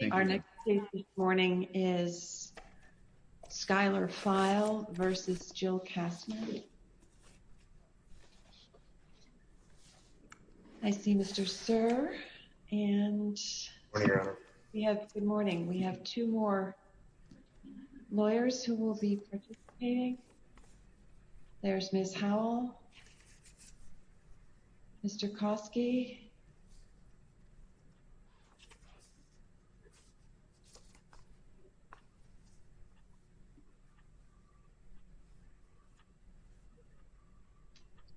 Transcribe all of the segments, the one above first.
Good morning. We have two more lawyers who will be participating. There's Ms. Howell, Mr. Kosky.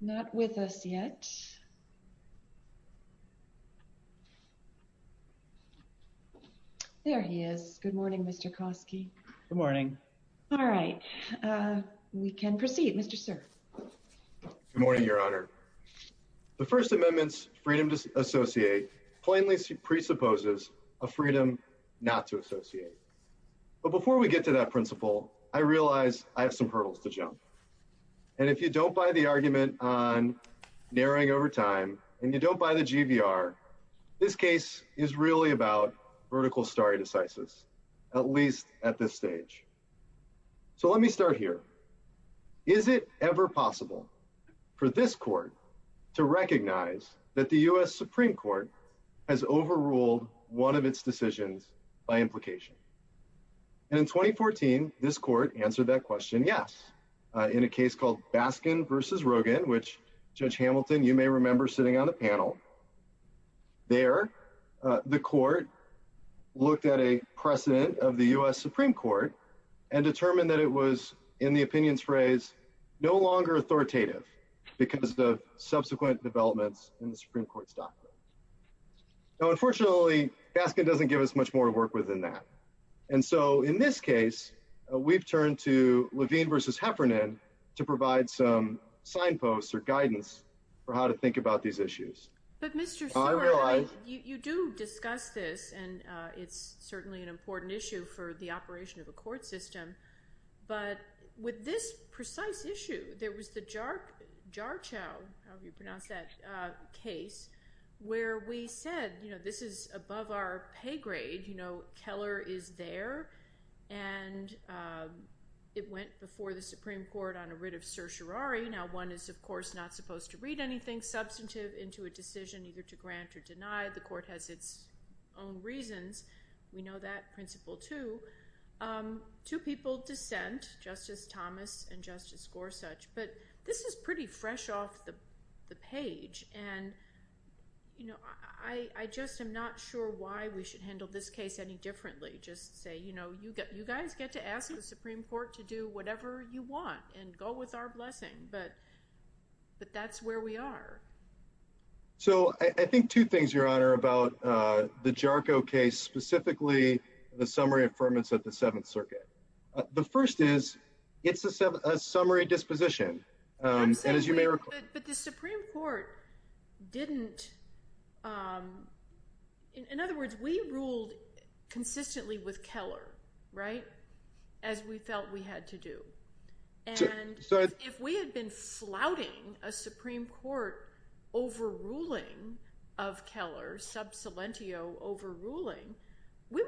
Not with us yet. There he is. Good morning, Mr. Kosky. Good morning. All right. We can proceed, Mr. Sir. Good morning, Your Honor. The First Amendment's freedom to associate plainly presupposes a freedom not to associate. But before we get to that principle, I realize I have some hurdles to jump. And if you don't buy the argument on narrowing over time, and you don't buy the GVR, this case is really about vertical stare decisis, at least at this stage. So let me start here. Is it ever possible for this court to recognize that the U.S. Supreme Court has overruled one of its decisions by implication? And in 2014, this court answered that question, yes. In a case called Baskin v. Rogin, which, Judge Hamilton, you may remember sitting on the panel. There, the court looked at a precedent of the U.S. Supreme Court and determined that it was, in the opinion's phrase, no longer authoritative because of subsequent developments in the Supreme Court's doctrine. Now, unfortunately, Baskin doesn't give us much more to work with than that. And so in this case, we've turned to these issues. But Mr. Seward, you do discuss this, and it's certainly an important issue for the operation of a court system. But with this precise issue, there was the Jarchow case where we said this is above our pay grade. Keller is there. And it went before the Supreme Court on anything substantive into a decision either to grant or deny. The court has its own reasons. We know that principle, too. Two people dissent, Justice Thomas and Justice Gorsuch. But this is pretty fresh off the page. And I just am not sure why we should handle this case any differently. Just say, you guys get to ask the Supreme Court to do whatever you want and go with our blessing. But that's where we are. So I think two things, Your Honor, about the Jarchow case, specifically the summary affirmance of the Seventh Circuit. The first is it's a summary disposition. But the Supreme Court didn't. In other words, we ruled consistently with Keller, right, as we felt we had to do. And if we had been flouting a Supreme Court overruling of Keller, sub salentio overruling, there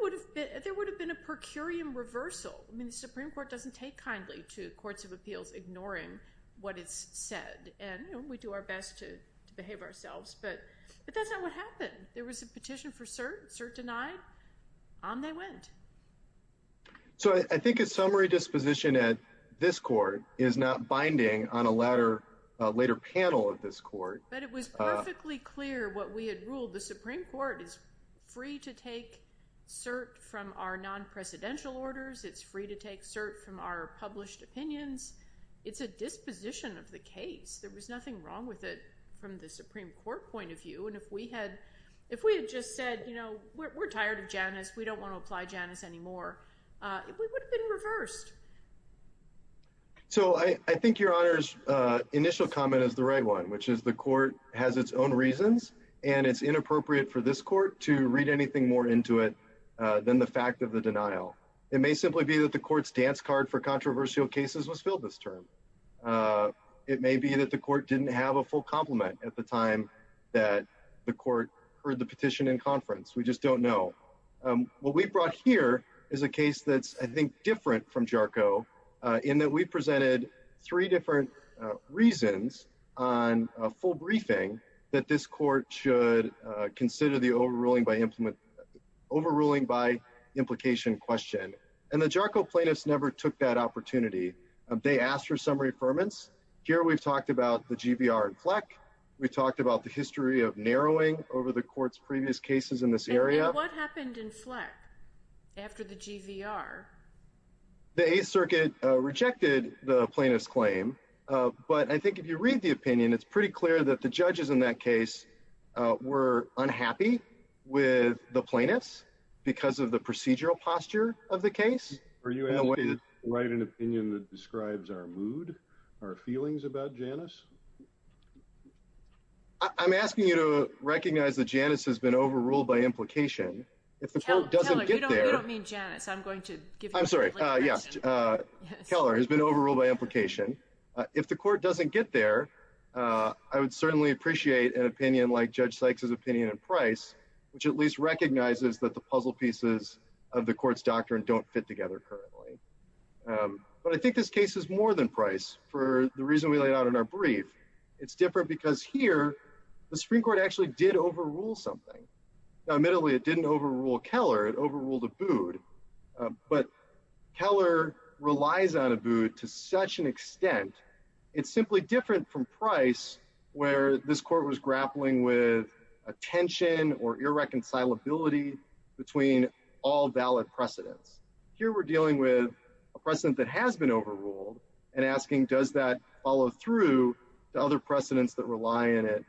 would have been a per curiam reversal. I mean, the Supreme Court doesn't take kindly to courts of appeals ignoring what is said. And we do our best to behave ourselves. But that's not what happened. There was a petition for cert, cert So I think a summary disposition at this court is not binding on a later panel of this court. But it was perfectly clear what we had ruled. The Supreme Court is free to take cert from our non-presidential orders. It's free to take cert from our published opinions. It's a disposition of the case. There was nothing wrong with it from the Supreme Court point of view. And if we had just said, you know, we're tired of Janus, we don't want to apply Janus anymore, it would have been reversed. So I think your honor's initial comment is the right one, which is the court has its own reasons. And it's inappropriate for this court to read anything more into it than the fact of the denial. It may simply be that the court's dance card for controversial cases was filled this term. It may be that the court didn't have a full compliment at the time that the court heard the petition in conference. We just don't know. What we brought here is a case that's, I think, different from JARCO in that we presented three different reasons on a full briefing that this court should consider the overruling by implement overruling by implication question. And the JARCO plaintiffs never took that opportunity. They asked for some reaffirmance. Here we've talked about the GVR and FLEC. We talked about the history of narrowing over the court's previous cases in this area. And what happened in FLEC after the GVR? The Eighth Circuit rejected the plaintiff's claim. But I think if you read the opinion, it's pretty clear that the judges in that case were unhappy with the plaintiffs because of procedural posture of the case. Are you able to write an opinion that describes our mood, our feelings about Janus? I'm asking you to recognize that Janus has been overruled by implication. If the court doesn't get there. Keller, you don't mean Janus. I'm going to give you a different question. I'm sorry. Yes. Keller has been overruled by implication. If the court doesn't get there, I would certainly appreciate an opinion like Judge Sykes' opinion in Price, which at least recognizes that the puzzle pieces of the court's doctrine don't fit together currently. But I think this case is more than Price for the reason we laid out in our brief. It's different because here the Supreme Court actually did overrule something. Now, admittedly, it didn't overrule Keller. It overruled Abood. But Keller relies on Abood to such an extent. It's simply different from Price where this court was grappling with a tension or irreconcilability between all valid precedents. Here we're dealing with a precedent that has been overruled and asking does that follow through to other precedents that rely on it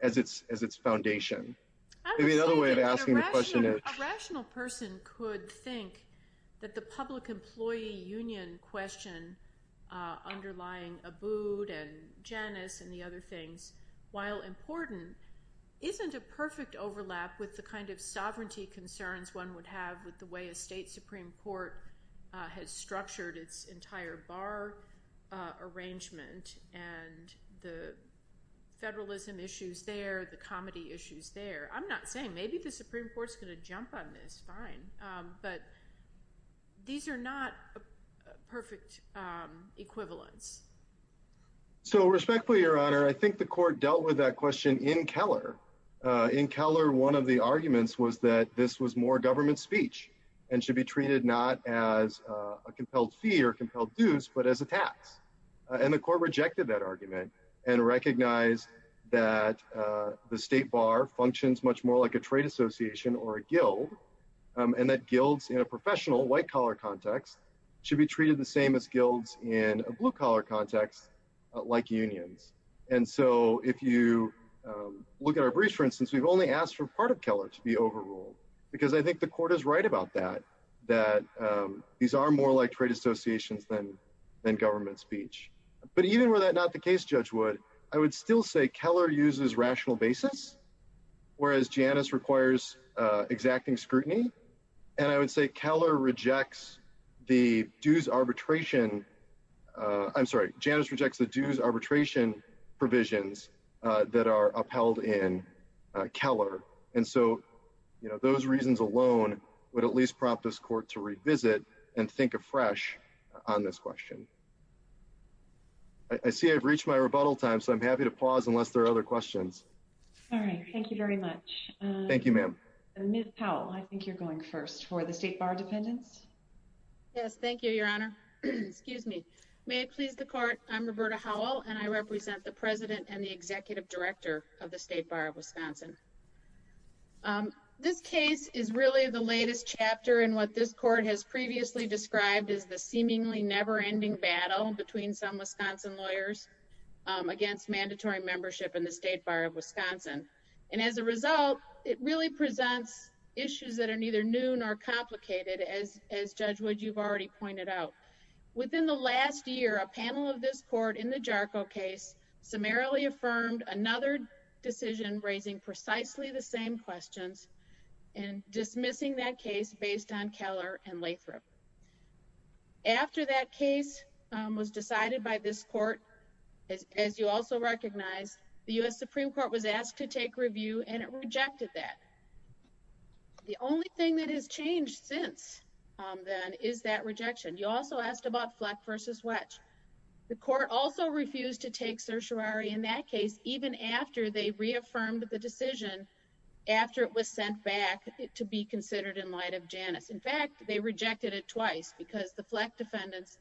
as its foundation. Maybe another way of asking the question is— A rational person could think that the public employee union question underlying Abood and Janus and the other things, while important, isn't a perfect overlap with the kind of sovereignty concerns one would have with the way a state Supreme Court has structured its entire bar arrangement and the federalism issues there, the comedy issues there. I'm not saying maybe the Supreme Court's going to jump on this. Fine. But these are not perfect equivalents. So respectfully, Your Honor, I think the court dealt with that question in Keller. In Keller, one of the arguments was that this was more government speech and should be treated not as a compelled fee or compelled dues, but as a tax. And the court rejected that argument and recognized that the state bar functions much more like a trade association or a guild and that guilds in a professional white-collar context should be treated the same as guilds in a blue-collar context like unions. And so if you look at our briefs, for instance, we've only asked for part of Keller to be overruled because I think the court is right about that, that these are more like trade associations than government speech. But even were that not the case, Judge Wood, I would still say Keller uses rational basis, whereas Janus requires exacting scrutiny. And I would say Keller rejects the dues arbitration, I'm sorry, Janus rejects the dues arbitration provisions that are upheld in Keller. And so, you know, those reasons alone would at least prompt this court to revisit and think afresh on this question. I see I've reached my rebuttal time, so I'm happy to pause unless there are other questions. All right, thank you very much. Thank you, ma'am. And Ms. Powell, I think you're going first for the state bar defendants. Yes, thank you, Your Honor. Excuse me. May it please the court, I'm Roberta Howell and I represent the President and the Executive Director of the State Bar of Wisconsin. This case is really the latest chapter in what this court has previously described as the seemingly never-ending battle between some Wisconsin lawyers against mandatory membership in the State Bar of Wisconsin. And as a result, it really presents issues that are neither new nor complicated, as Judge Wood, you've already pointed out. Within the last year, a panel of this court in the JARCO case summarily affirmed another decision raising precisely the same questions and dismissing that case based on Keller and Lathrop. After that case was decided by this court, as you also recognize, the U.S. Supreme Court was asked to take review and it rejected that. The only thing that has changed since then is that rejection. You also asked about Fleck v. Wetch. The court also refused to take certiorari in that case even after they reaffirmed the decision after it was sent back to be considered in light of Janus. In fact, they rejected it twice because the Fleck defendants,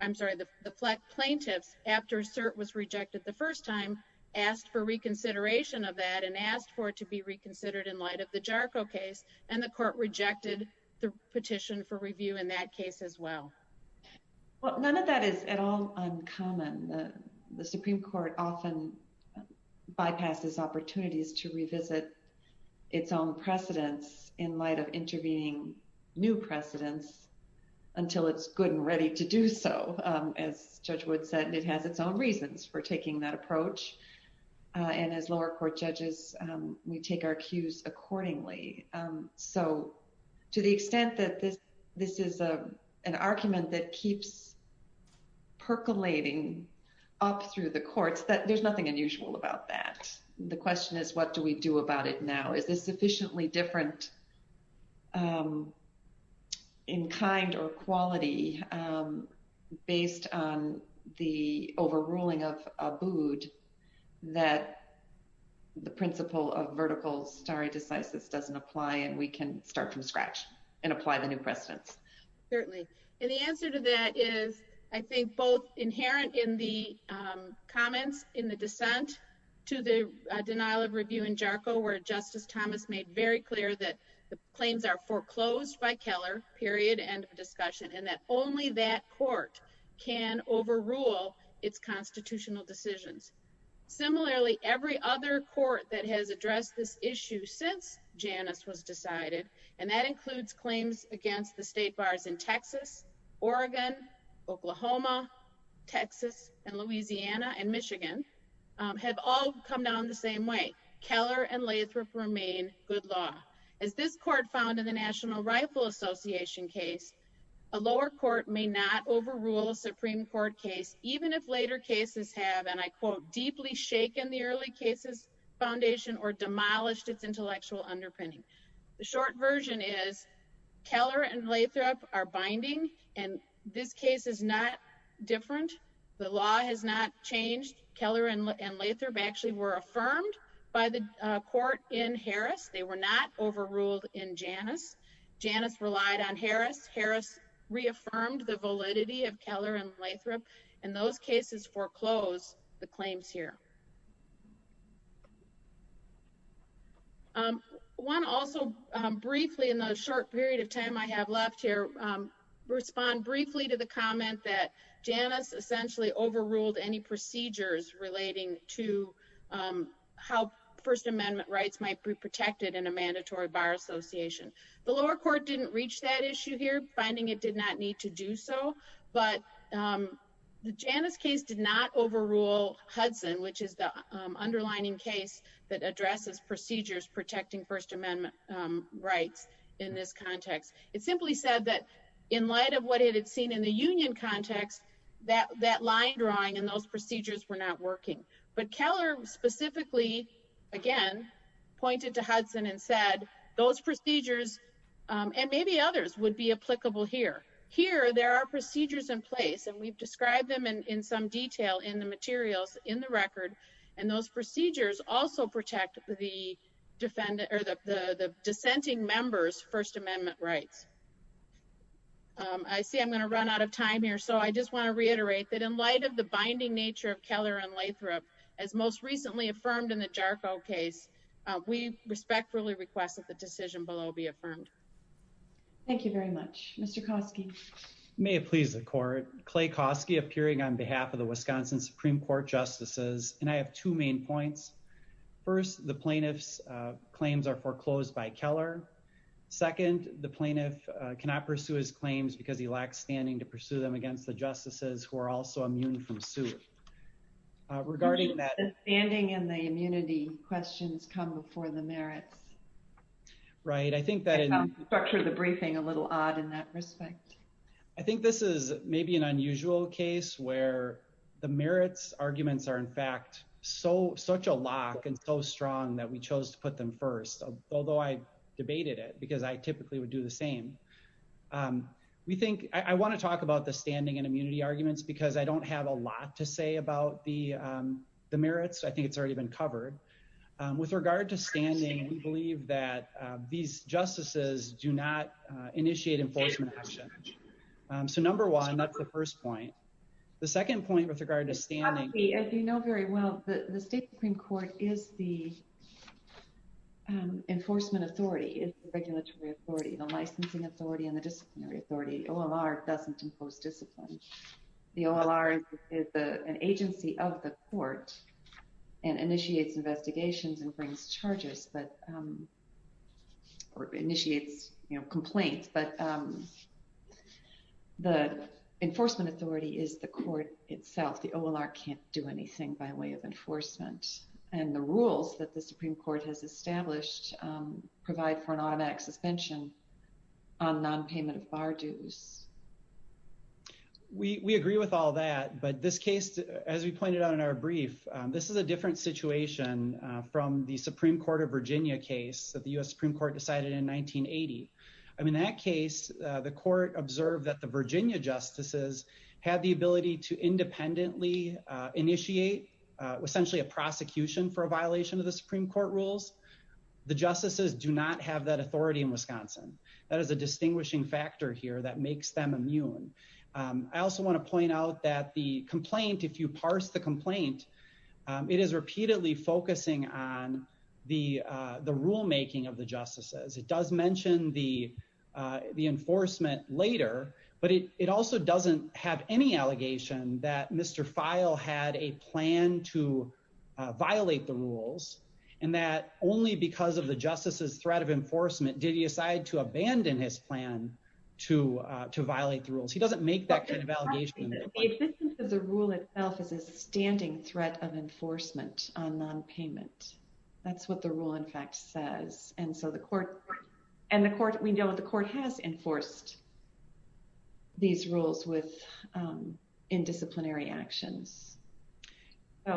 I'm sorry, the Fleck plaintiffs after cert was rejected the first time asked for reconsideration of that and asked for it to be reconsidered in light of the JARCO case and the court rejected the petition for review in that bypasses opportunities to revisit its own precedents in light of intervening new precedents until it's good and ready to do so. As Judge Wood said, it has its own reasons for taking that approach and as lower court judges we take our cues accordingly. So to the extent that this is an argument that keeps percolating up through the courts, that there's nothing unusual about that. The question is what do we do about it now? Is this sufficiently different in kind or quality based on the overruling of Abood that the principle of vertical stare doesn't apply and we can start from scratch and apply the new precedents? And the answer to that is I think both inherent in the comments in the dissent to the denial of review in JARCO where Justice Thomas made very clear that the claims are foreclosed by Keller, period, end of discussion, and that only that court can overrule its constitutional decisions. Similarly, every other court that has addressed this issue since Janus was decided and that includes claims against the state bars in Texas, Oregon, Oklahoma, Texas, and Louisiana, and Michigan have all come down the same way. Keller and Lathrop remain good law. As this court found in the National Rifle Association case, a lower court may not overrule a Supreme Court case even if later cases have, and I quote, deeply shaken the early cases foundation or demolished its intellectual underpinning. The short version is Keller and Lathrop are binding and this case is not different. The law has not changed. Keller and Lathrop actually were affirmed by the court in Harris. They were not overruled in Janus. Janus relied on Harris. Harris reaffirmed the foreclosed claims here. I want to also briefly in the short period of time I have left here respond briefly to the comment that Janus essentially overruled any procedures relating to how First Amendment rights might be protected in a mandatory bar association. The lower court didn't reach that issue here finding it did not need to do so, but the Janus case did not overrule Hudson, which is the underlining case that addresses procedures protecting First Amendment rights in this context. It simply said that in light of what it had seen in the union context, that line drawing and those procedures were not working, but Keller specifically again pointed to Hudson and said those procedures and maybe others would be applicable here. Here there are procedures in place and we've described them in some detail in the materials in the record and those procedures also protect the dissenting members' First Amendment rights. I see I'm going to run out of time here, so I just want to reiterate that in light of the binding nature of Keller and Lathrop as most recently affirmed in the JARCO case, we respectfully request that the decision below be affirmed. Thank you very much. Mr. Koski. May it please the court, Clay Koski appearing on behalf of the Wisconsin Supreme Court justices and I have two main points. First, the plaintiff's claims are foreclosed by Keller. Second, the plaintiff cannot pursue his claims because he lacks standing to pursue them against the justices who are also immune from suit. Regarding that... The standing and the immunity questions come before the merits. Right. I think that... Structured the briefing a little odd in that respect. I think this is maybe an unusual case where the merits arguments are in fact so such a lock and so strong that we chose to put them first, although I debated it because I typically would do the same. We think... I want to talk about the standing and immunity arguments because I don't have a lot to say about the merits. I think it's already been covered. With regard to standing, we believe that these justices do not initiate enforcement action. So number one, that's the first point. The second point with regard to standing... As you know very well, the state Supreme Court is the enforcement authority. It's the regulatory authority, the licensing authority, and the disciplinary authority. OLR doesn't impose discipline. The OLR is an agency of the court and initiates investigations and brings charges, but... Or initiates, you know, complaints, but the enforcement authority is the court itself. The OLR can't do anything by way of enforcement. And the rules that the Supreme Court has established provide for an automatic suspension on non-payment of bar dues. We agree with all that, but this case, as we pointed out in our brief, this is a different situation from the Supreme Court of Virginia case that the U.S. Supreme Court decided in 1980. In that case, the court observed that the Virginia justices had the ability to independently initiate essentially a prosecution for a violation of the Supreme Court rules. The justices do not have that authority in Wisconsin. That is a distinguishing factor here that makes them immune. I also want to point out that the complaint, if you parse the complaint, it is repeatedly focusing on the rulemaking of the allegation that Mr. Feil had a plan to violate the rules and that only because of the justice's threat of enforcement did he decide to abandon his plan to violate the rules. He doesn't make that kind of allegation. The existence of the rule itself is a standing threat of enforcement on non-payment. That's what the rule in fact says. And so the court, and the court, we know the court has enforced these rules with indisciplinary actions. The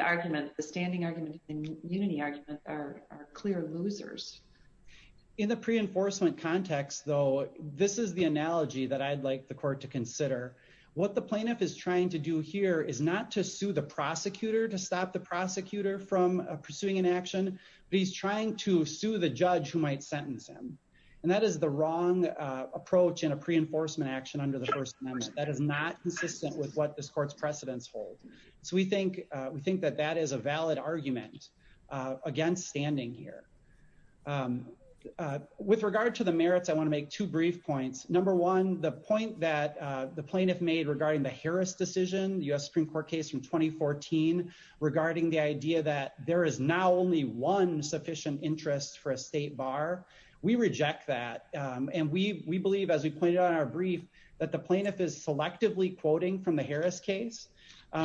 argument, the standing argument and unity argument are clear losers. In the pre-enforcement context, though, this is the analogy that I'd like the court to consider. What the plaintiff is trying to do here is not to sue the prosecutor to stop the prosecutor from pursuing an action, but he's trying to sue the judge who might sentence him. And that is the wrong approach in a pre-enforcement action under the First Amendment. That is not consistent with what this court's precedents hold. So we think that that is a valid argument against standing here. With regard to the merits, I want to make two brief points. Number one, the point that the plaintiff made regarding the Harris decision, the U.S. Supreme Court case from 2014, regarding the idea that there is now only one interest for a state bar. We reject that. And we believe, as we pointed out in our brief, that the plaintiff is selectively quoting from the Harris case.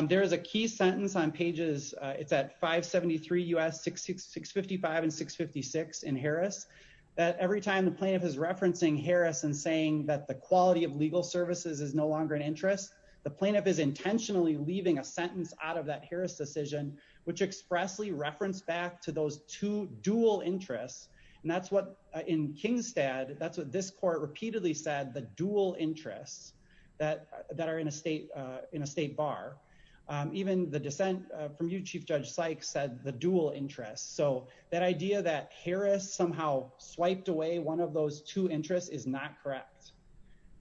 There is a key sentence on pages, it's at 573 U.S., 655 and 656 in Harris, that every time the plaintiff is referencing Harris and saying that the quality of legal services is no longer an interest, the plaintiff is intentionally leaving a sentence out of that Harris decision, which expressly referenced back those two dual interests. And that's what, in Kingstad, that's what this court repeatedly said, the dual interests that are in a state bar. Even the dissent from you, Chief Judge Sykes, said the dual interests. So that idea that Harris somehow swiped away one of those two interests is not correct.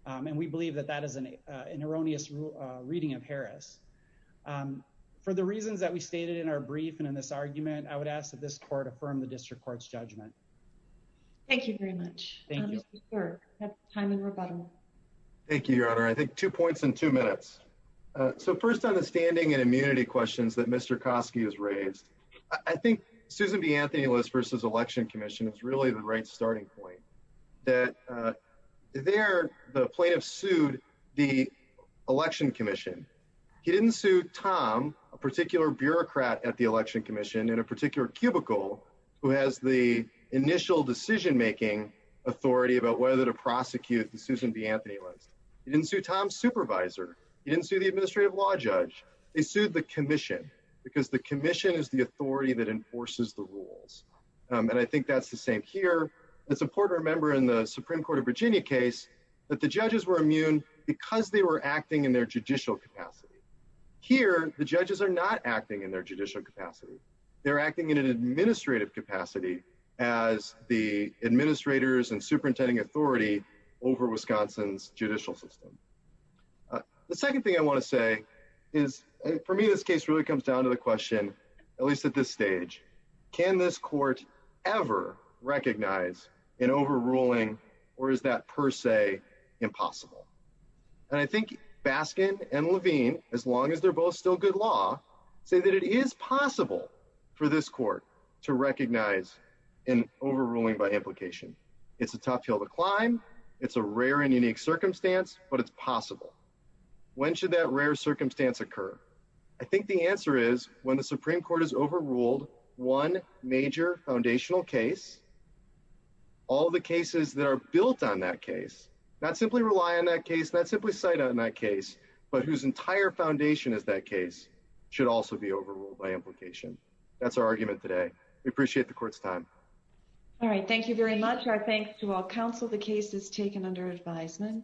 And we believe that that is an erroneous reading of Harris. For the reasons that we stated in our brief and in this argument, I would ask that this court affirm the District Court's judgment. Thank you very much. Thank you, Your Honor. I think two points in two minutes. So first on the standing and immunity questions that Mr. Koski has raised, I think Susan B. Anthony was versus Election Commission is really the right starting point, that there the plaintiff sued the Election Commission. He didn't sue Tom, a particular bureaucrat at the Election Commission, in a particular cubicle who has the initial decision making authority about whether to prosecute the Susan B. Anthony list. He didn't sue Tom's supervisor. He didn't sue the administrative law judge. They sued the commission, because the commission is the authority that enforces the rules. And I think that's the same here. It's important to remember in the Supreme Court of Virginia case that the judges were immune because they were acting in their judicial capacity. Here, the judges are not acting in their judicial capacity. They're acting in an administrative capacity as the administrators and superintending authority over Wisconsin's judicial system. The second thing I want to say is, for me, this case really comes down to the question, at least at this stage, can this court ever recognize an overruling, or is that per se impossible? And I think Baskin and Levine, as long as they're both still good law, say that it is possible for this court to recognize an overruling by implication. It's a tough hill to climb. It's a rare and unique circumstance, but it's possible. When should that rare circumstance occur? I think the answer is when the Supreme Court has overruled one major foundational case, all the cases that are built on that case, not simply rely on that case, not simply cite on that case, but whose entire foundation is that case, should also be overruled by implication. That's our argument today. We appreciate the court's time. All right. Thank you very much. Our thanks to all counsel. The case is taken under advisement.